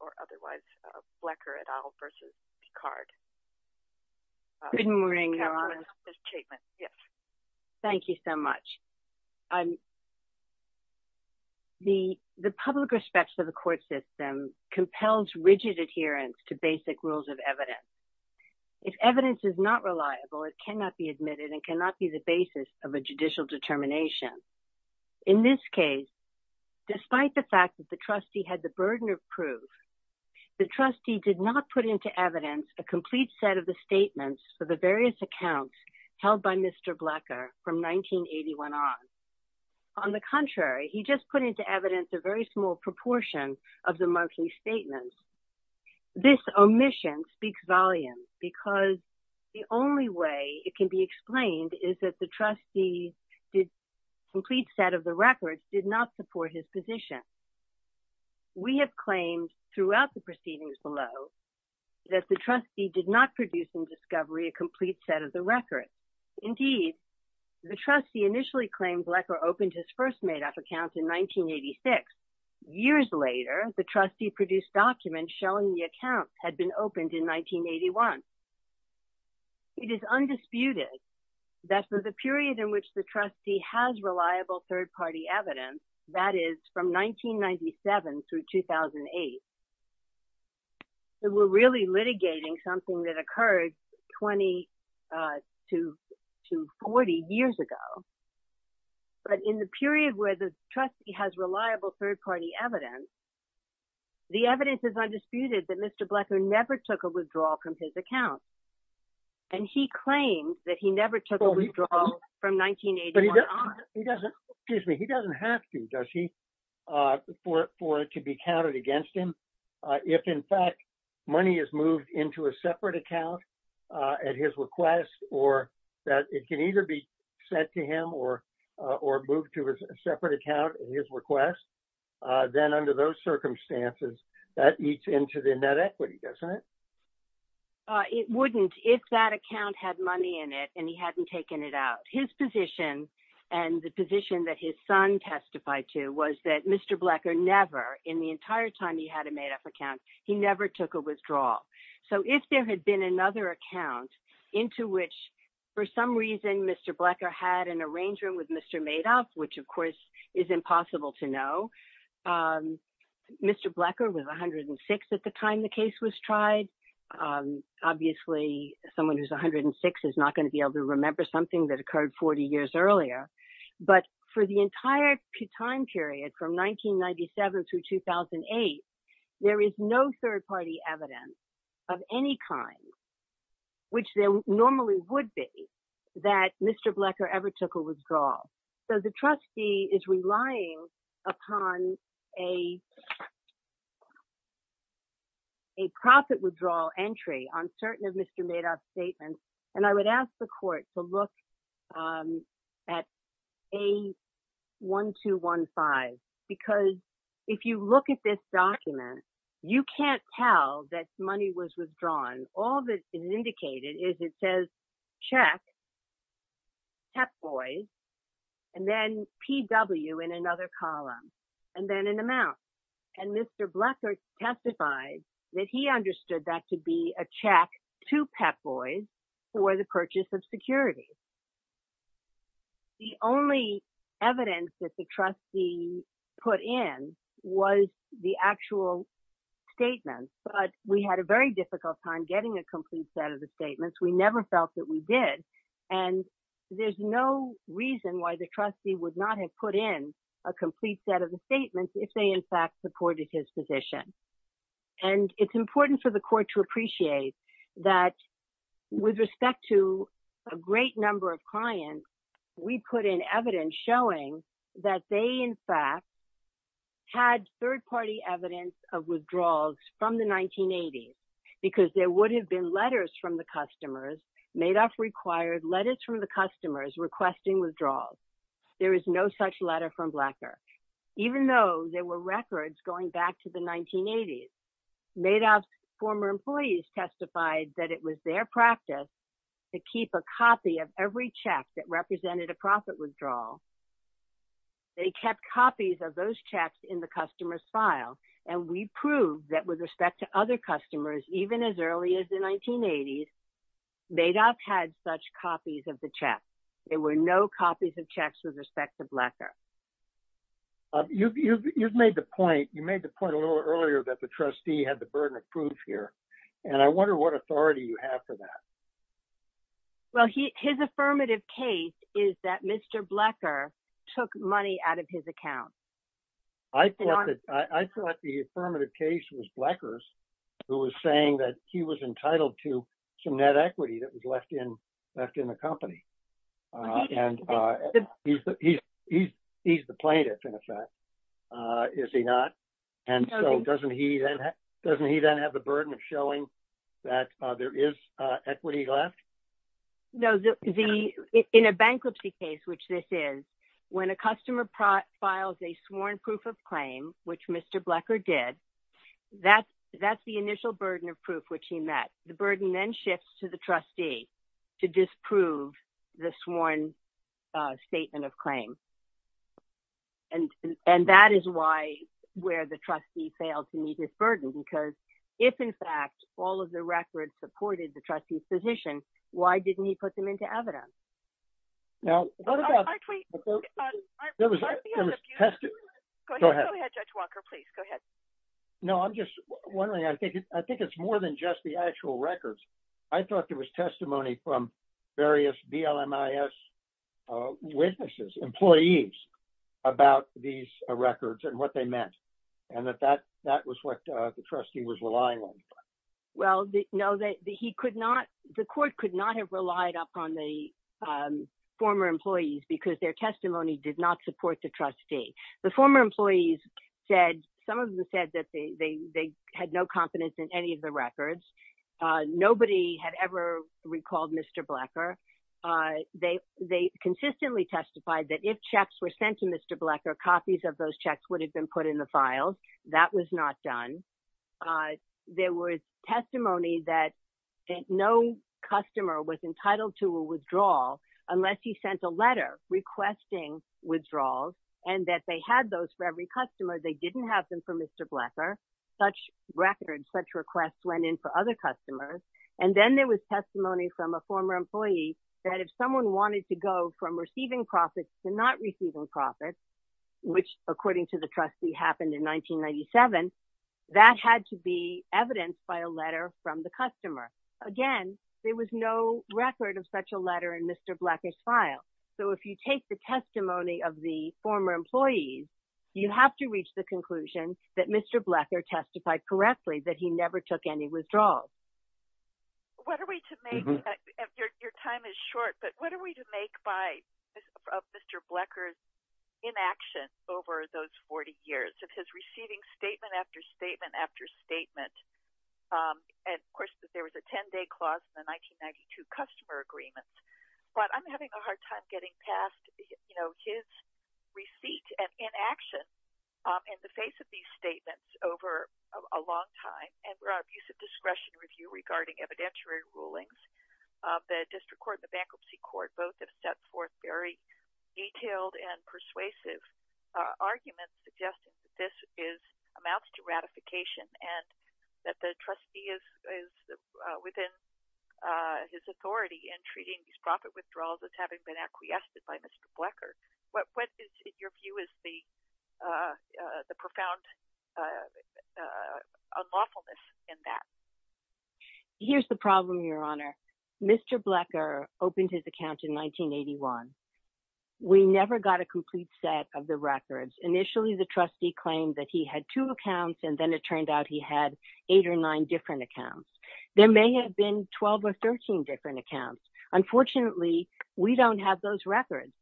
or otherwise Flecker et al. v. Picard. Good morning, Your Honor. Thank you so much. The public respect for the court system compels rigid adherence to basic rules of evidence. If evidence is not reliable, it cannot be admitted and cannot be the basis of a judicial determination. In this case, despite the fact that the trustee had the burden of proof, the trustee did not put into evidence a complete set of the statements for the various accounts held by Mr. Flecker from 1981 on. On the contrary, he just put into evidence a very small proportion of the monthly statements. This omission speaks volumes because the only way it can be explained is that the trustee's complete set of the records did not support his position. We have claimed throughout the proceedings below that the trustee did not produce in discovery a complete set of the records. Indeed, the trustee initially claimed Flecker opened his first Madoff accounts in 1986. Years later, the trustee produced documents showing the accounts had been opened in 1981. It is undisputed that for the period in which the trustee has reliable third-party evidence, that is, from 1997 through 2008, that we're really litigating something that occurred 20 to 40 years ago. But in the period where the trustee has reliable third-party evidence, the evidence is undisputed that Mr. Flecker never took a withdrawal from his account. And he claims that he never took a withdrawal from 1981 on. He doesn't have to, does he, for it to be counted against him? If, in fact, money is moved into a separate account at his request, or that it can either be sent to him or moved to a separate account at his request, then under those circumstances, that eats into the net equity, doesn't it? It wouldn't if that account had money in it and he hadn't taken it out. His position and the position that his son testified to was that Mr. Flecker never, in the entire time he had a Madoff account, he never took a withdrawal. So if there had been another account into which, for some reason, Mr. Flecker had an arrangement with Mr. Madoff, which, of course, is impossible to know. Mr. Flecker was 106 at the time the case was tried. Obviously, someone who's 106 is not going to be able to remember something that occurred 40 years earlier. But for the entire time period, from 1997 through 2008, there is no third-party evidence of any kind, which there normally would be, that Mr. Flecker ever took a withdrawal. So the trustee is relying upon a profit withdrawal entry on certain of Mr. Madoff's statements. And I would ask the court to look at A1215, because if you look at this document, you can't tell that money was withdrawn. All that is indicated is it says check, Pep Boys, and then PW in another column, and then an amount. And Mr. Flecker testified that he understood that to be a check to Pep Boys for the purchase of security. The only evidence that the trustee put in was the actual statement. But we had a very difficult time getting a complete set of the statements. We never felt that we did. And there's no reason why the trustee would not have put in a complete set of the statements if they, in fact, supported his position. And it's important for the court to appreciate that with respect to a great number of clients, we put in evidence showing that they, in fact, had third-party evidence of withdrawals from the 1980s, because there would have been letters from the customers. Madoff required letters from the customers requesting withdrawals. There is no such letter from Flecker, even though there were records going back to the 1980s. Madoff's former employees testified that it was their practice to keep a copy of every check that represented a profit withdrawal. They kept copies of those checks in the customer's file. And we proved that with respect to other customers, even as early as the 1980s, Madoff had such copies of the checks. There were no copies of checks with respect to Flecker. You've made the point a little earlier that the trustee had the burden of proof here. And I wonder what authority you have for that. Well, his affirmative case is that Mr. Flecker took money out of his account. I thought the affirmative case was Flecker's, who was saying that he was entitled to some net equity that was left in the company. And he's the plaintiff, in effect, is he not? And so doesn't he then have the burden of showing that there is equity left? No, in a bankruptcy case, which this is, when a customer files a sworn proof of claim, which Mr. Flecker did, that's the initial burden of proof, which he met. The burden then shifts to the trustee to disprove the sworn statement of claim. And that is why, where the trustee failed to meet his burden, because if, in fact, all of the records supported the trustee's position, why didn't he put them into evidence? Now, there was a test. Go ahead. Judge Walker, please go ahead. No, I'm just wondering. I think it's more than just the actual records. I thought there was testimony from various BLMIS witnesses, employees, about these records and what they meant, and that that was what the trustee was relying on. Well, no, the court could not have relied upon the former employees because their testimony did not support the trustee. The former employees said, some of them said that they had no confidence in any of the records. Nobody had ever recalled Mr. Flecker. They consistently testified that if checks were sent to Mr. Flecker, copies of those checks would have been put in the files. That was not done. There was testimony that no customer was entitled to a withdrawal unless he sent a letter requesting withdrawals, and that they had those for every customer. They didn't have them for Mr. Flecker. Such records, such requests went in for other customers. And then there was testimony from a former employee that if someone wanted to go from receiving profits to not receiving profits, which, according to the trustee, happened in 1997, that had to be evidenced by a letter from the customer. Again, there was no record of such a letter in Mr. Flecker's file. So if you take the testimony of the former employees, you have to reach the conclusion that Mr. Flecker testified correctly that he never took any withdrawals. Your time is short, but what are we to make of Mr. Flecker's inaction over those 40 years of his receiving statement after statement after statement? And, of course, there was a 10-day clause in the 1992 customer agreement. But I'm having a hard time getting past his receipt and inaction in the face of these statements over a long time. And we're at an abuse of discretion review regarding evidentiary rulings. The district court and the bankruptcy court both have set forth very detailed and persuasive arguments suggesting that this amounts to ratification and that the trustee is within his authority in treating these profit withdrawals as having been acquiesced by Mr. Flecker. What is your view as the profound unlawfulness in that? Here's the problem, Your Honor. Mr. Flecker opened his account in 1981. We never got a complete set of the records. Initially, the trustee claimed that he had two accounts, and then it turned out he had eight or nine different accounts. There may have been 12 or 13 different accounts. Unfortunately, we don't have those records.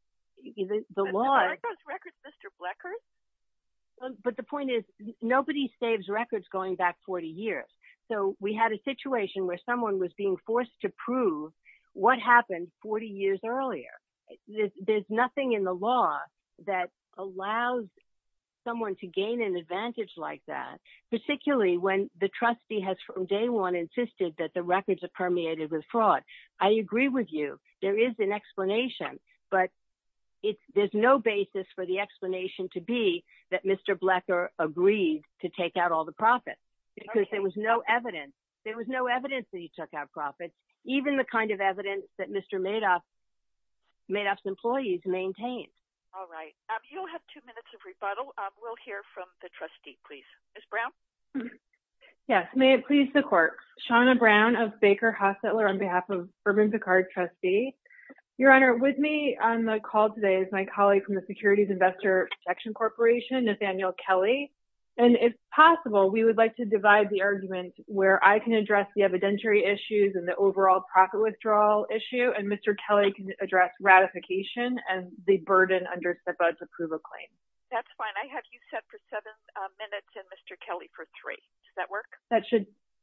But the point is, nobody saves records going back 40 years. So we had a situation where someone was being forced to prove what happened 40 years earlier. There's nothing in the law that allows someone to gain an advantage like that, particularly when the trustee has from day one insisted that the records are permeated with fraud. I agree with you. There is an explanation. But there's no basis for the explanation to be that Mr. Flecker agreed to take out all the profits because there was no evidence. There was no evidence that he took out profits, even the kind of evidence that Mr. Madoff's employees maintained. All right. You'll have two minutes of rebuttal. We'll hear from the trustee, please. Ms. Brown? Yes. May it please the court. Shawna Brown of Baker Hostetler on behalf of Urban Picard trustee. Your Honor, with me on the call today is my colleague from the Securities Investor Protection Corporation, Nathaniel Kelly. And if possible, we would like to divide the argument where I can address the evidentiary issues and the overall profit withdrawal issue, and Mr. Kelly can address ratification and the burden under SIPA to prove a claim. That's fine. I have you set for seven minutes and Mr. Kelly for three. Does that work?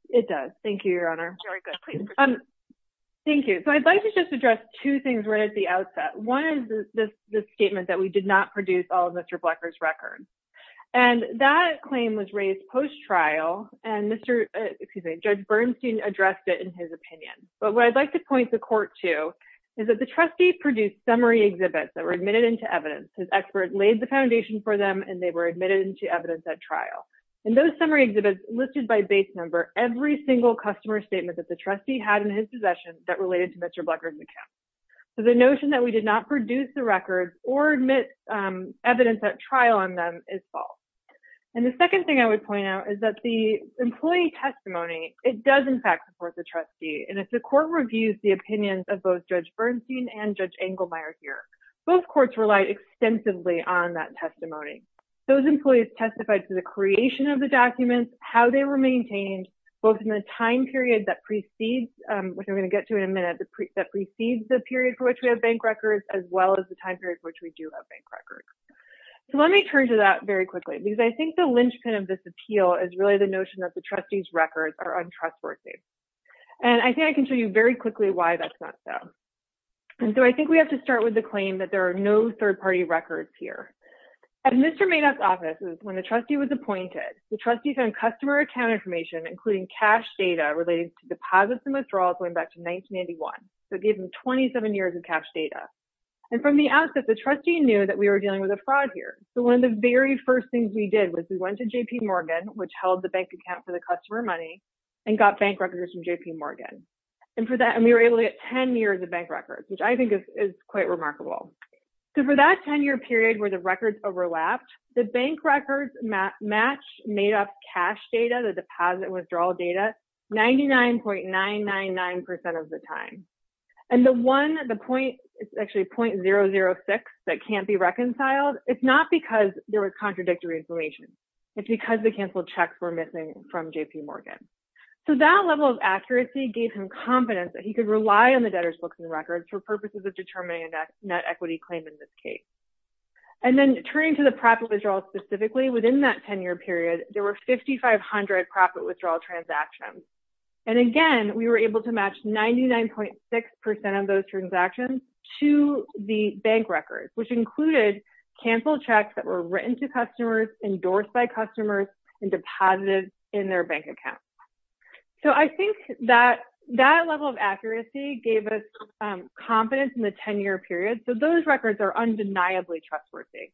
It does. Thank you, Your Honor. Very good. Please proceed. Thank you. So I'd like to just address two things right at the outset. One is this statement that we did not produce all of Mr. Blecker's records. And that claim was raised post-trial, and Judge Bernstein addressed it in his opinion. But what I'd like to point the court to is that the trustee produced summary exhibits that were admitted into evidence. His expert laid the foundation for them, and they were admitted into evidence at trial. In those summary exhibits listed by base number, every single customer statement that the trustee had in his possession that related to Mr. Blecker's account. So the notion that we did not produce the records or admit evidence at trial on them is false. And the second thing I would point out is that the employee testimony, it does, in fact, support the trustee. And if the court reviews the opinions of both Judge Bernstein and Judge Engelmeyer here, both courts relied extensively on that testimony. Those employees testified to the creation of the documents, how they were maintained, both in the time period that precedes, which I'm going to get to in a minute, that precedes the period for which we have bank records, as well as the time period for which we do have bank records. So let me turn to that very quickly, because I think the linchpin of this appeal is really the notion that the trustee's records are untrustworthy. And I think I can show you very quickly why that's not so. And so I think we have to start with the claim that there are no third-party records here. At Mr. Madoff's office, when the trustee was appointed, the trustee found customer account information, including cash data related to deposits and withdrawals going back to 1991. So it gave him 27 years of cash data. And from the outset, the trustee knew that we were dealing with a fraud here. So one of the very first things we did was we went to J.P. Morgan, which held the bank account for the customer money, and got bank records from J.P. Morgan. And we were able to get 10 years of bank records, which I think is quite remarkable. So for that 10-year period where the records overlapped, the bank records matched Madoff's cash data, the deposit withdrawal data, 99.999% of the time. And the one, the point, it's actually .006 that can't be reconciled. It's not because there was contradictory information. It's because the canceled checks were missing from J.P. Morgan. So that level of accuracy gave him confidence that he could rely on the debtor's books and records for purposes of determining a net equity claim in this case. And then turning to the profit withdrawal specifically, within that 10-year period, there were 5,500 profit withdrawal transactions. And again, we were able to match 99.6% of those transactions to the bank records, which included canceled checks that were written to customers, endorsed by customers, and deposited in their bank account. So I think that that level of accuracy gave us confidence in the 10-year period. So those records are undeniably trustworthy.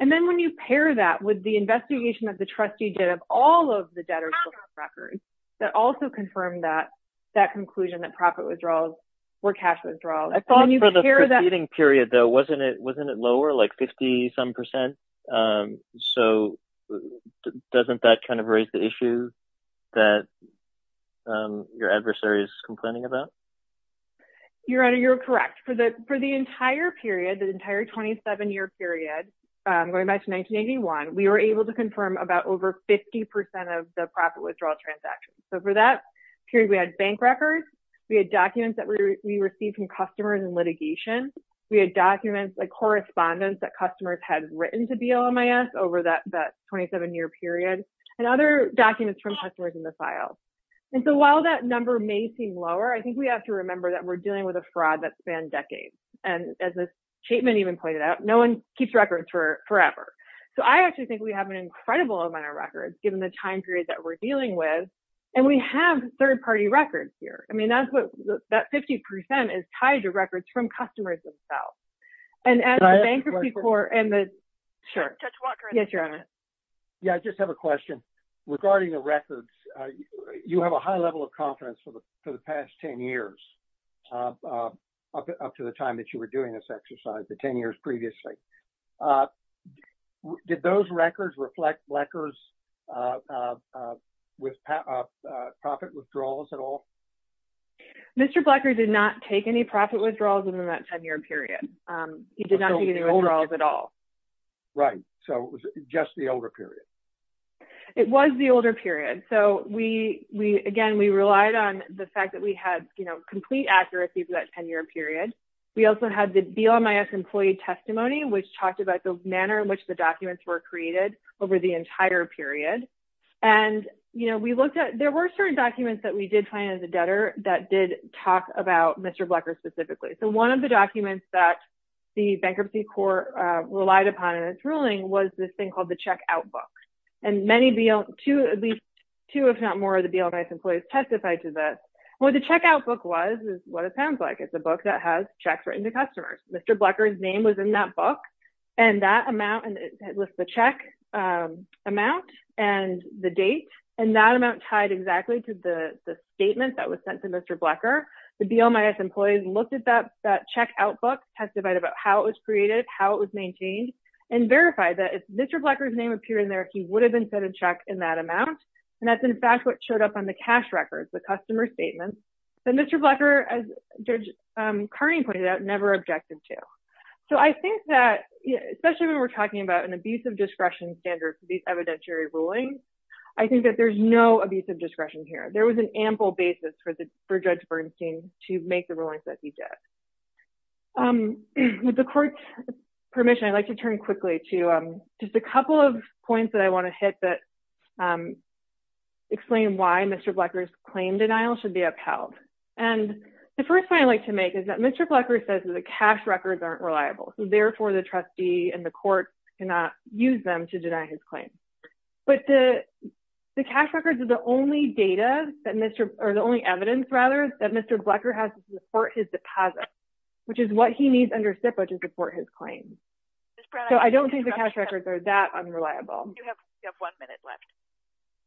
And then when you pair that with the investigation that the trustee did of all of the debtor's books and records, that also confirmed that conclusion that profit withdrawals were cash withdrawals. For the preceding period, though, wasn't it lower, like 50-some percent? So doesn't that kind of raise the issue that your adversary is complaining about? Your Honor, you're correct. For the entire period, the entire 27-year period, going back to 1981, we were able to confirm about over 50% of the profit withdrawal transactions. So for that period, we had bank records. We had documents that we received from customers in litigation. We had documents, like correspondence that customers had written to BLMIS over that 27-year period, and other documents from customers in the files. And so while that number may seem lower, I think we have to remember that we're dealing with a fraud that spanned decades. And as this statement even pointed out, no one keeps records forever. So I actually think we have an incredible amount of records, given the time period that we're dealing with. And we have third-party records here. I mean, that 50% is tied to records from customers themselves. And as a bankruptcy court and the – sure. Judge Walker. Yes, Your Honor. Yeah, I just have a question. Regarding the records, you have a high level of confidence for the past 10 years, up to the time that you were doing this exercise, the 10 years previously. Did those records reflect Blecker's profit withdrawals at all? Mr. Blecker did not take any profit withdrawals in that 10-year period. He did not take any withdrawals at all. Right. So it was just the older period. It was the older period. So we – again, we relied on the fact that we had, you know, complete accuracy for that 10-year period. We also had the BLMIS employee testimony, which talked about the manner in which the documents were created over the entire period. And, you know, we looked at – there were certain documents that we did find in the debtor that did talk about Mr. Blecker specifically. So one of the documents that the bankruptcy court relied upon in its ruling was this thing called the checkout book. And many – at least two, if not more, of the BLMIS employees testified to this. And what the checkout book was is what it sounds like. It's a book that has checks written to customers. Mr. Blecker's name was in that book. And that amount – it lists the check amount and the date. And that amount tied exactly to the statement that was sent to Mr. Blecker. The BLMIS employees looked at that checkout book, testified about how it was created, how it was maintained, and verified that if Mr. Blecker's name appeared in there, he would have been set a check in that amount. And that's, in fact, what showed up on the cash records, the customer statements that Mr. Blecker, as Judge Carney pointed out, never objected to. So I think that, especially when we're talking about an abuse of discretion standard for these evidentiary rulings, I think that there's no abuse of discretion here. There was an ample basis for Judge Bernstein to make the rulings that he did. With the court's permission, I'd like to turn quickly to just a couple of points that I want to hit that explain why Mr. Blecker's claim denial should be upheld. And the first point I'd like to make is that Mr. Blecker says that the cash records aren't reliable, so therefore the trustee and the court cannot use them to deny his claim. But the cash records are the only evidence that Mr. Blecker has to support his deposit, which is what he needs under SIPA to support his claim. So I don't think the cash records are that unreliable. You have one minute left.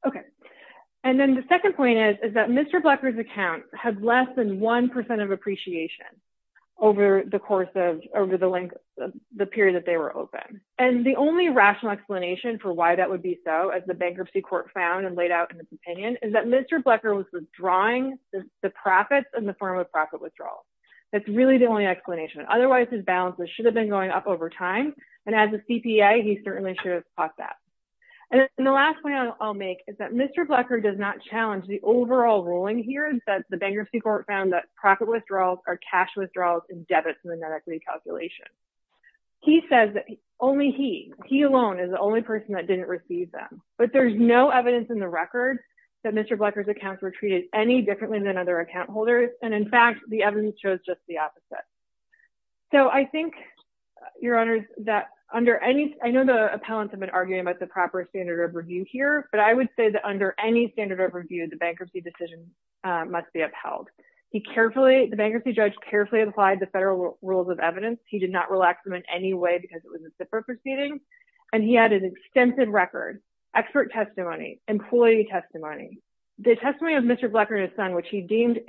Okay. And then the second point is that Mr. Blecker's account had less than 1% of appreciation over the length of the period that they were open. And the only rational explanation for why that would be so, as the Bankruptcy Court found and laid out in its opinion, is that Mr. Blecker was withdrawing the profits in the form of profit withdrawals. That's really the only explanation. Otherwise, his balances should have been going up over time, and as a CPA, he certainly should have caught that. And the last point I'll make is that Mr. Blecker does not challenge the overall ruling here, in that the Bankruptcy Court found that profit withdrawals are cash withdrawals and debits in the net equity calculation. He says that only he, he alone, is the only person that didn't receive them. But there's no evidence in the record that Mr. Blecker's accounts were treated any differently than other account holders, and, in fact, the evidence shows just the opposite. So I think, Your Honors, that under any – I know the appellants have been arguing about the proper standard of review here, but I would say that under any standard of review, the bankruptcy decision must be upheld. He carefully – the bankruptcy judge carefully applied the federal rules of evidence. He did not relax them in any way because it was a SIPRA proceeding, and he had an extensive record, expert testimony, employee testimony. The testimony of Mr. Blecker and his son, which he deemed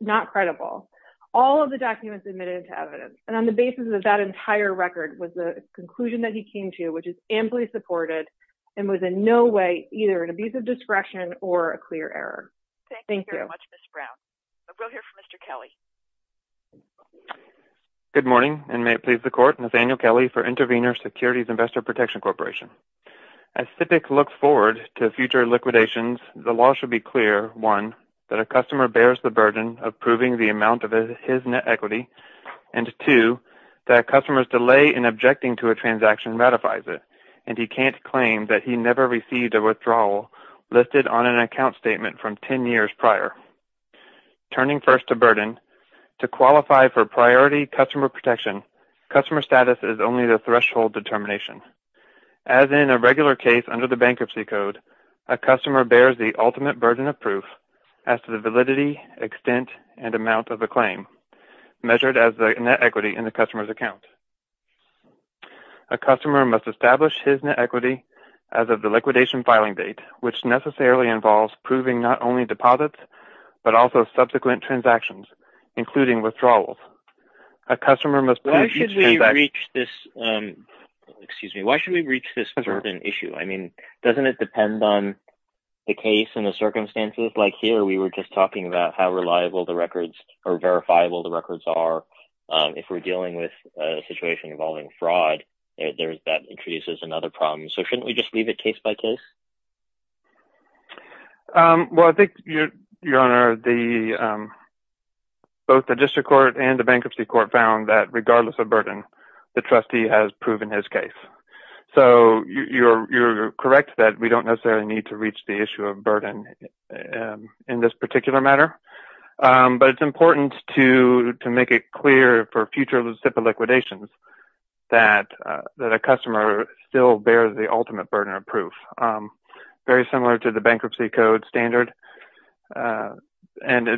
not credible, all of the documents admitted to evidence, and on the basis of that entire record was the conclusion that he came to, which is amply supported and was in no way either an abuse of discretion or a clear error. Thank you. Thank you very much, Ms. Brown. We'll go here for Mr. Kelly. Good morning, and may it please the Court, Nathaniel Kelly for Intervenor Securities Investor Protection Corporation. As SIPIC looks forward to future liquidations, the law should be clear, one, that a customer bears the burden of proving the amount of his net equity, and, two, that a customer's delay in objecting to a transaction ratifies it, and he can't claim that he never received a withdrawal listed on an account statement from 10 years prior. Turning first to burden, to qualify for priority customer protection, customer status is only the threshold determination. As in a regular case under the Bankruptcy Code, a customer bears the ultimate burden of proof as to the validity, extent, and amount of the claim, measured as the net equity in the customer's account. A customer must establish his net equity as of the liquidation filing date, which necessarily involves proving not only deposits but also subsequent transactions, including withdrawals. A customer must prove each transaction. Why should we reach this certain issue? I mean, doesn't it depend on the case and the circumstances? Like here, we were just talking about how reliable the records or verifiable the records are. If we're dealing with a situation involving fraud, that introduces another problem. So shouldn't we just leave it case by case? Well, I think, Your Honor, both the District Court and the Bankruptcy Court found that regardless of burden, the trustee has proven his case. So you're correct that we don't necessarily need to reach the issue of burden in this particular matter, but it's important to make it clear for future Lucipa liquidations that a customer still bears the ultimate burden of proof, very similar to the Bankruptcy Code standard. And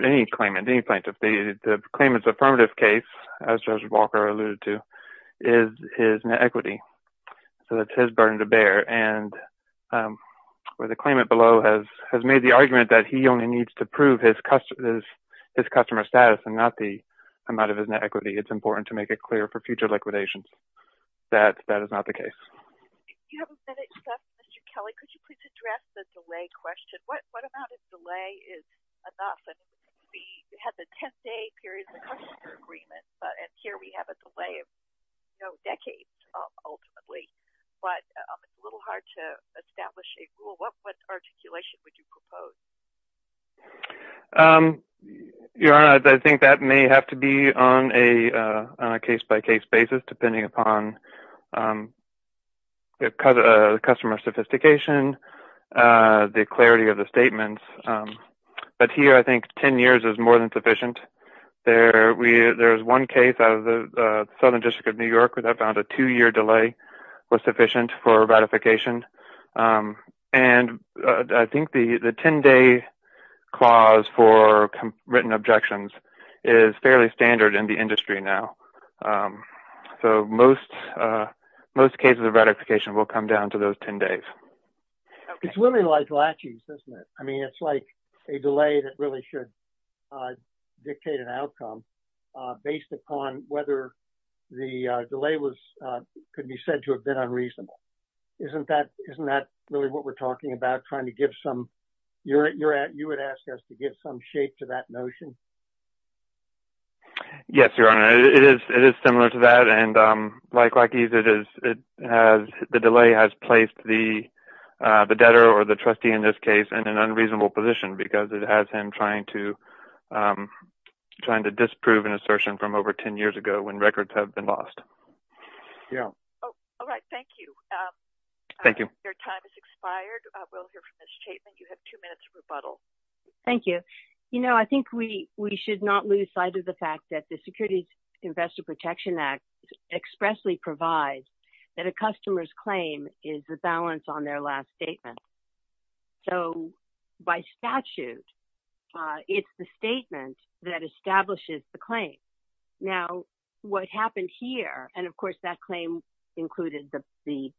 any claimant, any plaintiff, the claimant's affirmative case, as Judge Walker alluded to, is net equity. So that's his burden to bear. And where the claimant below has made the argument that he only needs to prove his customer status and not the amount of his net equity, it's important to make it clear for future liquidations that that is not the case. If you have a minute, Mr. Kelly, could you please address the delay question? What amount of delay is enough? We had the 10-day period of the customer agreement, and here we have a delay of, you know, decades, ultimately. But it's a little hard to establish a rule. What articulation would you propose? Your Honor, I think that may have to be on a case-by-case basis, depending upon customer sophistication, the clarity of the statements. But here I think 10 years is more than sufficient. There's one case out of the Southern District of New York that found a two-year delay was sufficient for ratification. And I think the 10-day clause for written objections is fairly standard in the industry now. So most cases of ratification will come down to those 10 days. It's really like lachies, isn't it? I mean, it's like a delay that really should dictate an outcome based upon whether the delay could be said to have been unreasonable. Isn't that really what we're talking about, trying to give some – you would ask us to give some shape to that notion? Yes, Your Honor. It is similar to that. And like lachies, it has – the delay has placed the debtor or the trustee in this case in an unreasonable position because it has him trying to disprove an assertion from over 10 years ago when records have been lost. Yeah. All right. Thank you. Thank you. Your time has expired. We'll hear from Ms. Chapman. You have two minutes for rebuttal. Thank you. You know, I think we should not lose sight of the fact that the Securities Investor Protection Act expressly provides that a customer's claim is the balance on their last statement. So by statute, it's the statement that establishes the claim. Now, what happened here – and, of course, that claim included the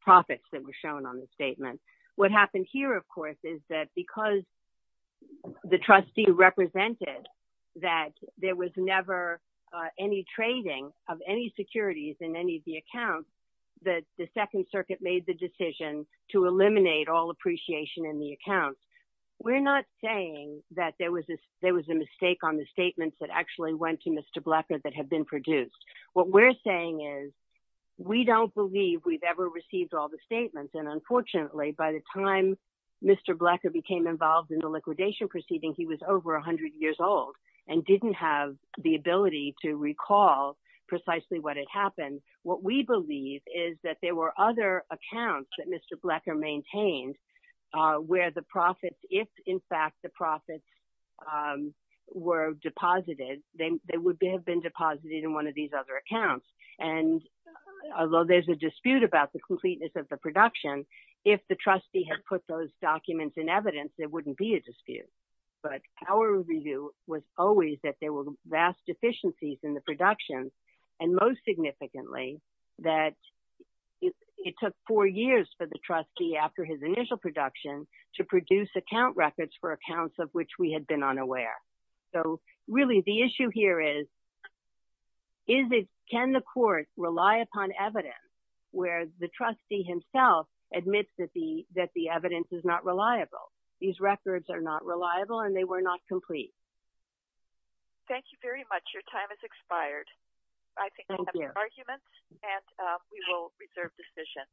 profits that were shown on the statement. What happened here, of course, is that because the trustee represented that there was never any trading of any securities in any of the accounts, that the Second Circuit made the decision to eliminate all appreciation in the accounts. We're not saying that there was a mistake on the statements that actually went to Mr. Bleffer that have been produced. What we're saying is we don't believe we've ever received all the statements. And, unfortunately, by the time Mr. Bleffer became involved in the liquidation proceeding, he was over 100 years old and didn't have the ability to recall precisely what had happened. What we believe is that there were other accounts that Mr. Bleffer maintained where the profits – if, in fact, the profits were deposited, they would have been deposited in one of these other accounts. And although there's a dispute about the completeness of the production, if the trustee had put those documents in evidence, there wouldn't be a dispute. But our review was always that there were vast deficiencies in the production and, most significantly, that it took four years for the trustee, after his initial production, to produce account records for accounts of which we had been unaware. So, really, the issue here is, can the court rely upon evidence where the trustee himself admits that the evidence is not reliable? These records are not reliable and they were not complete. Thank you very much. Your time has expired. Thank you. I think I have no arguments, and we will reserve the session.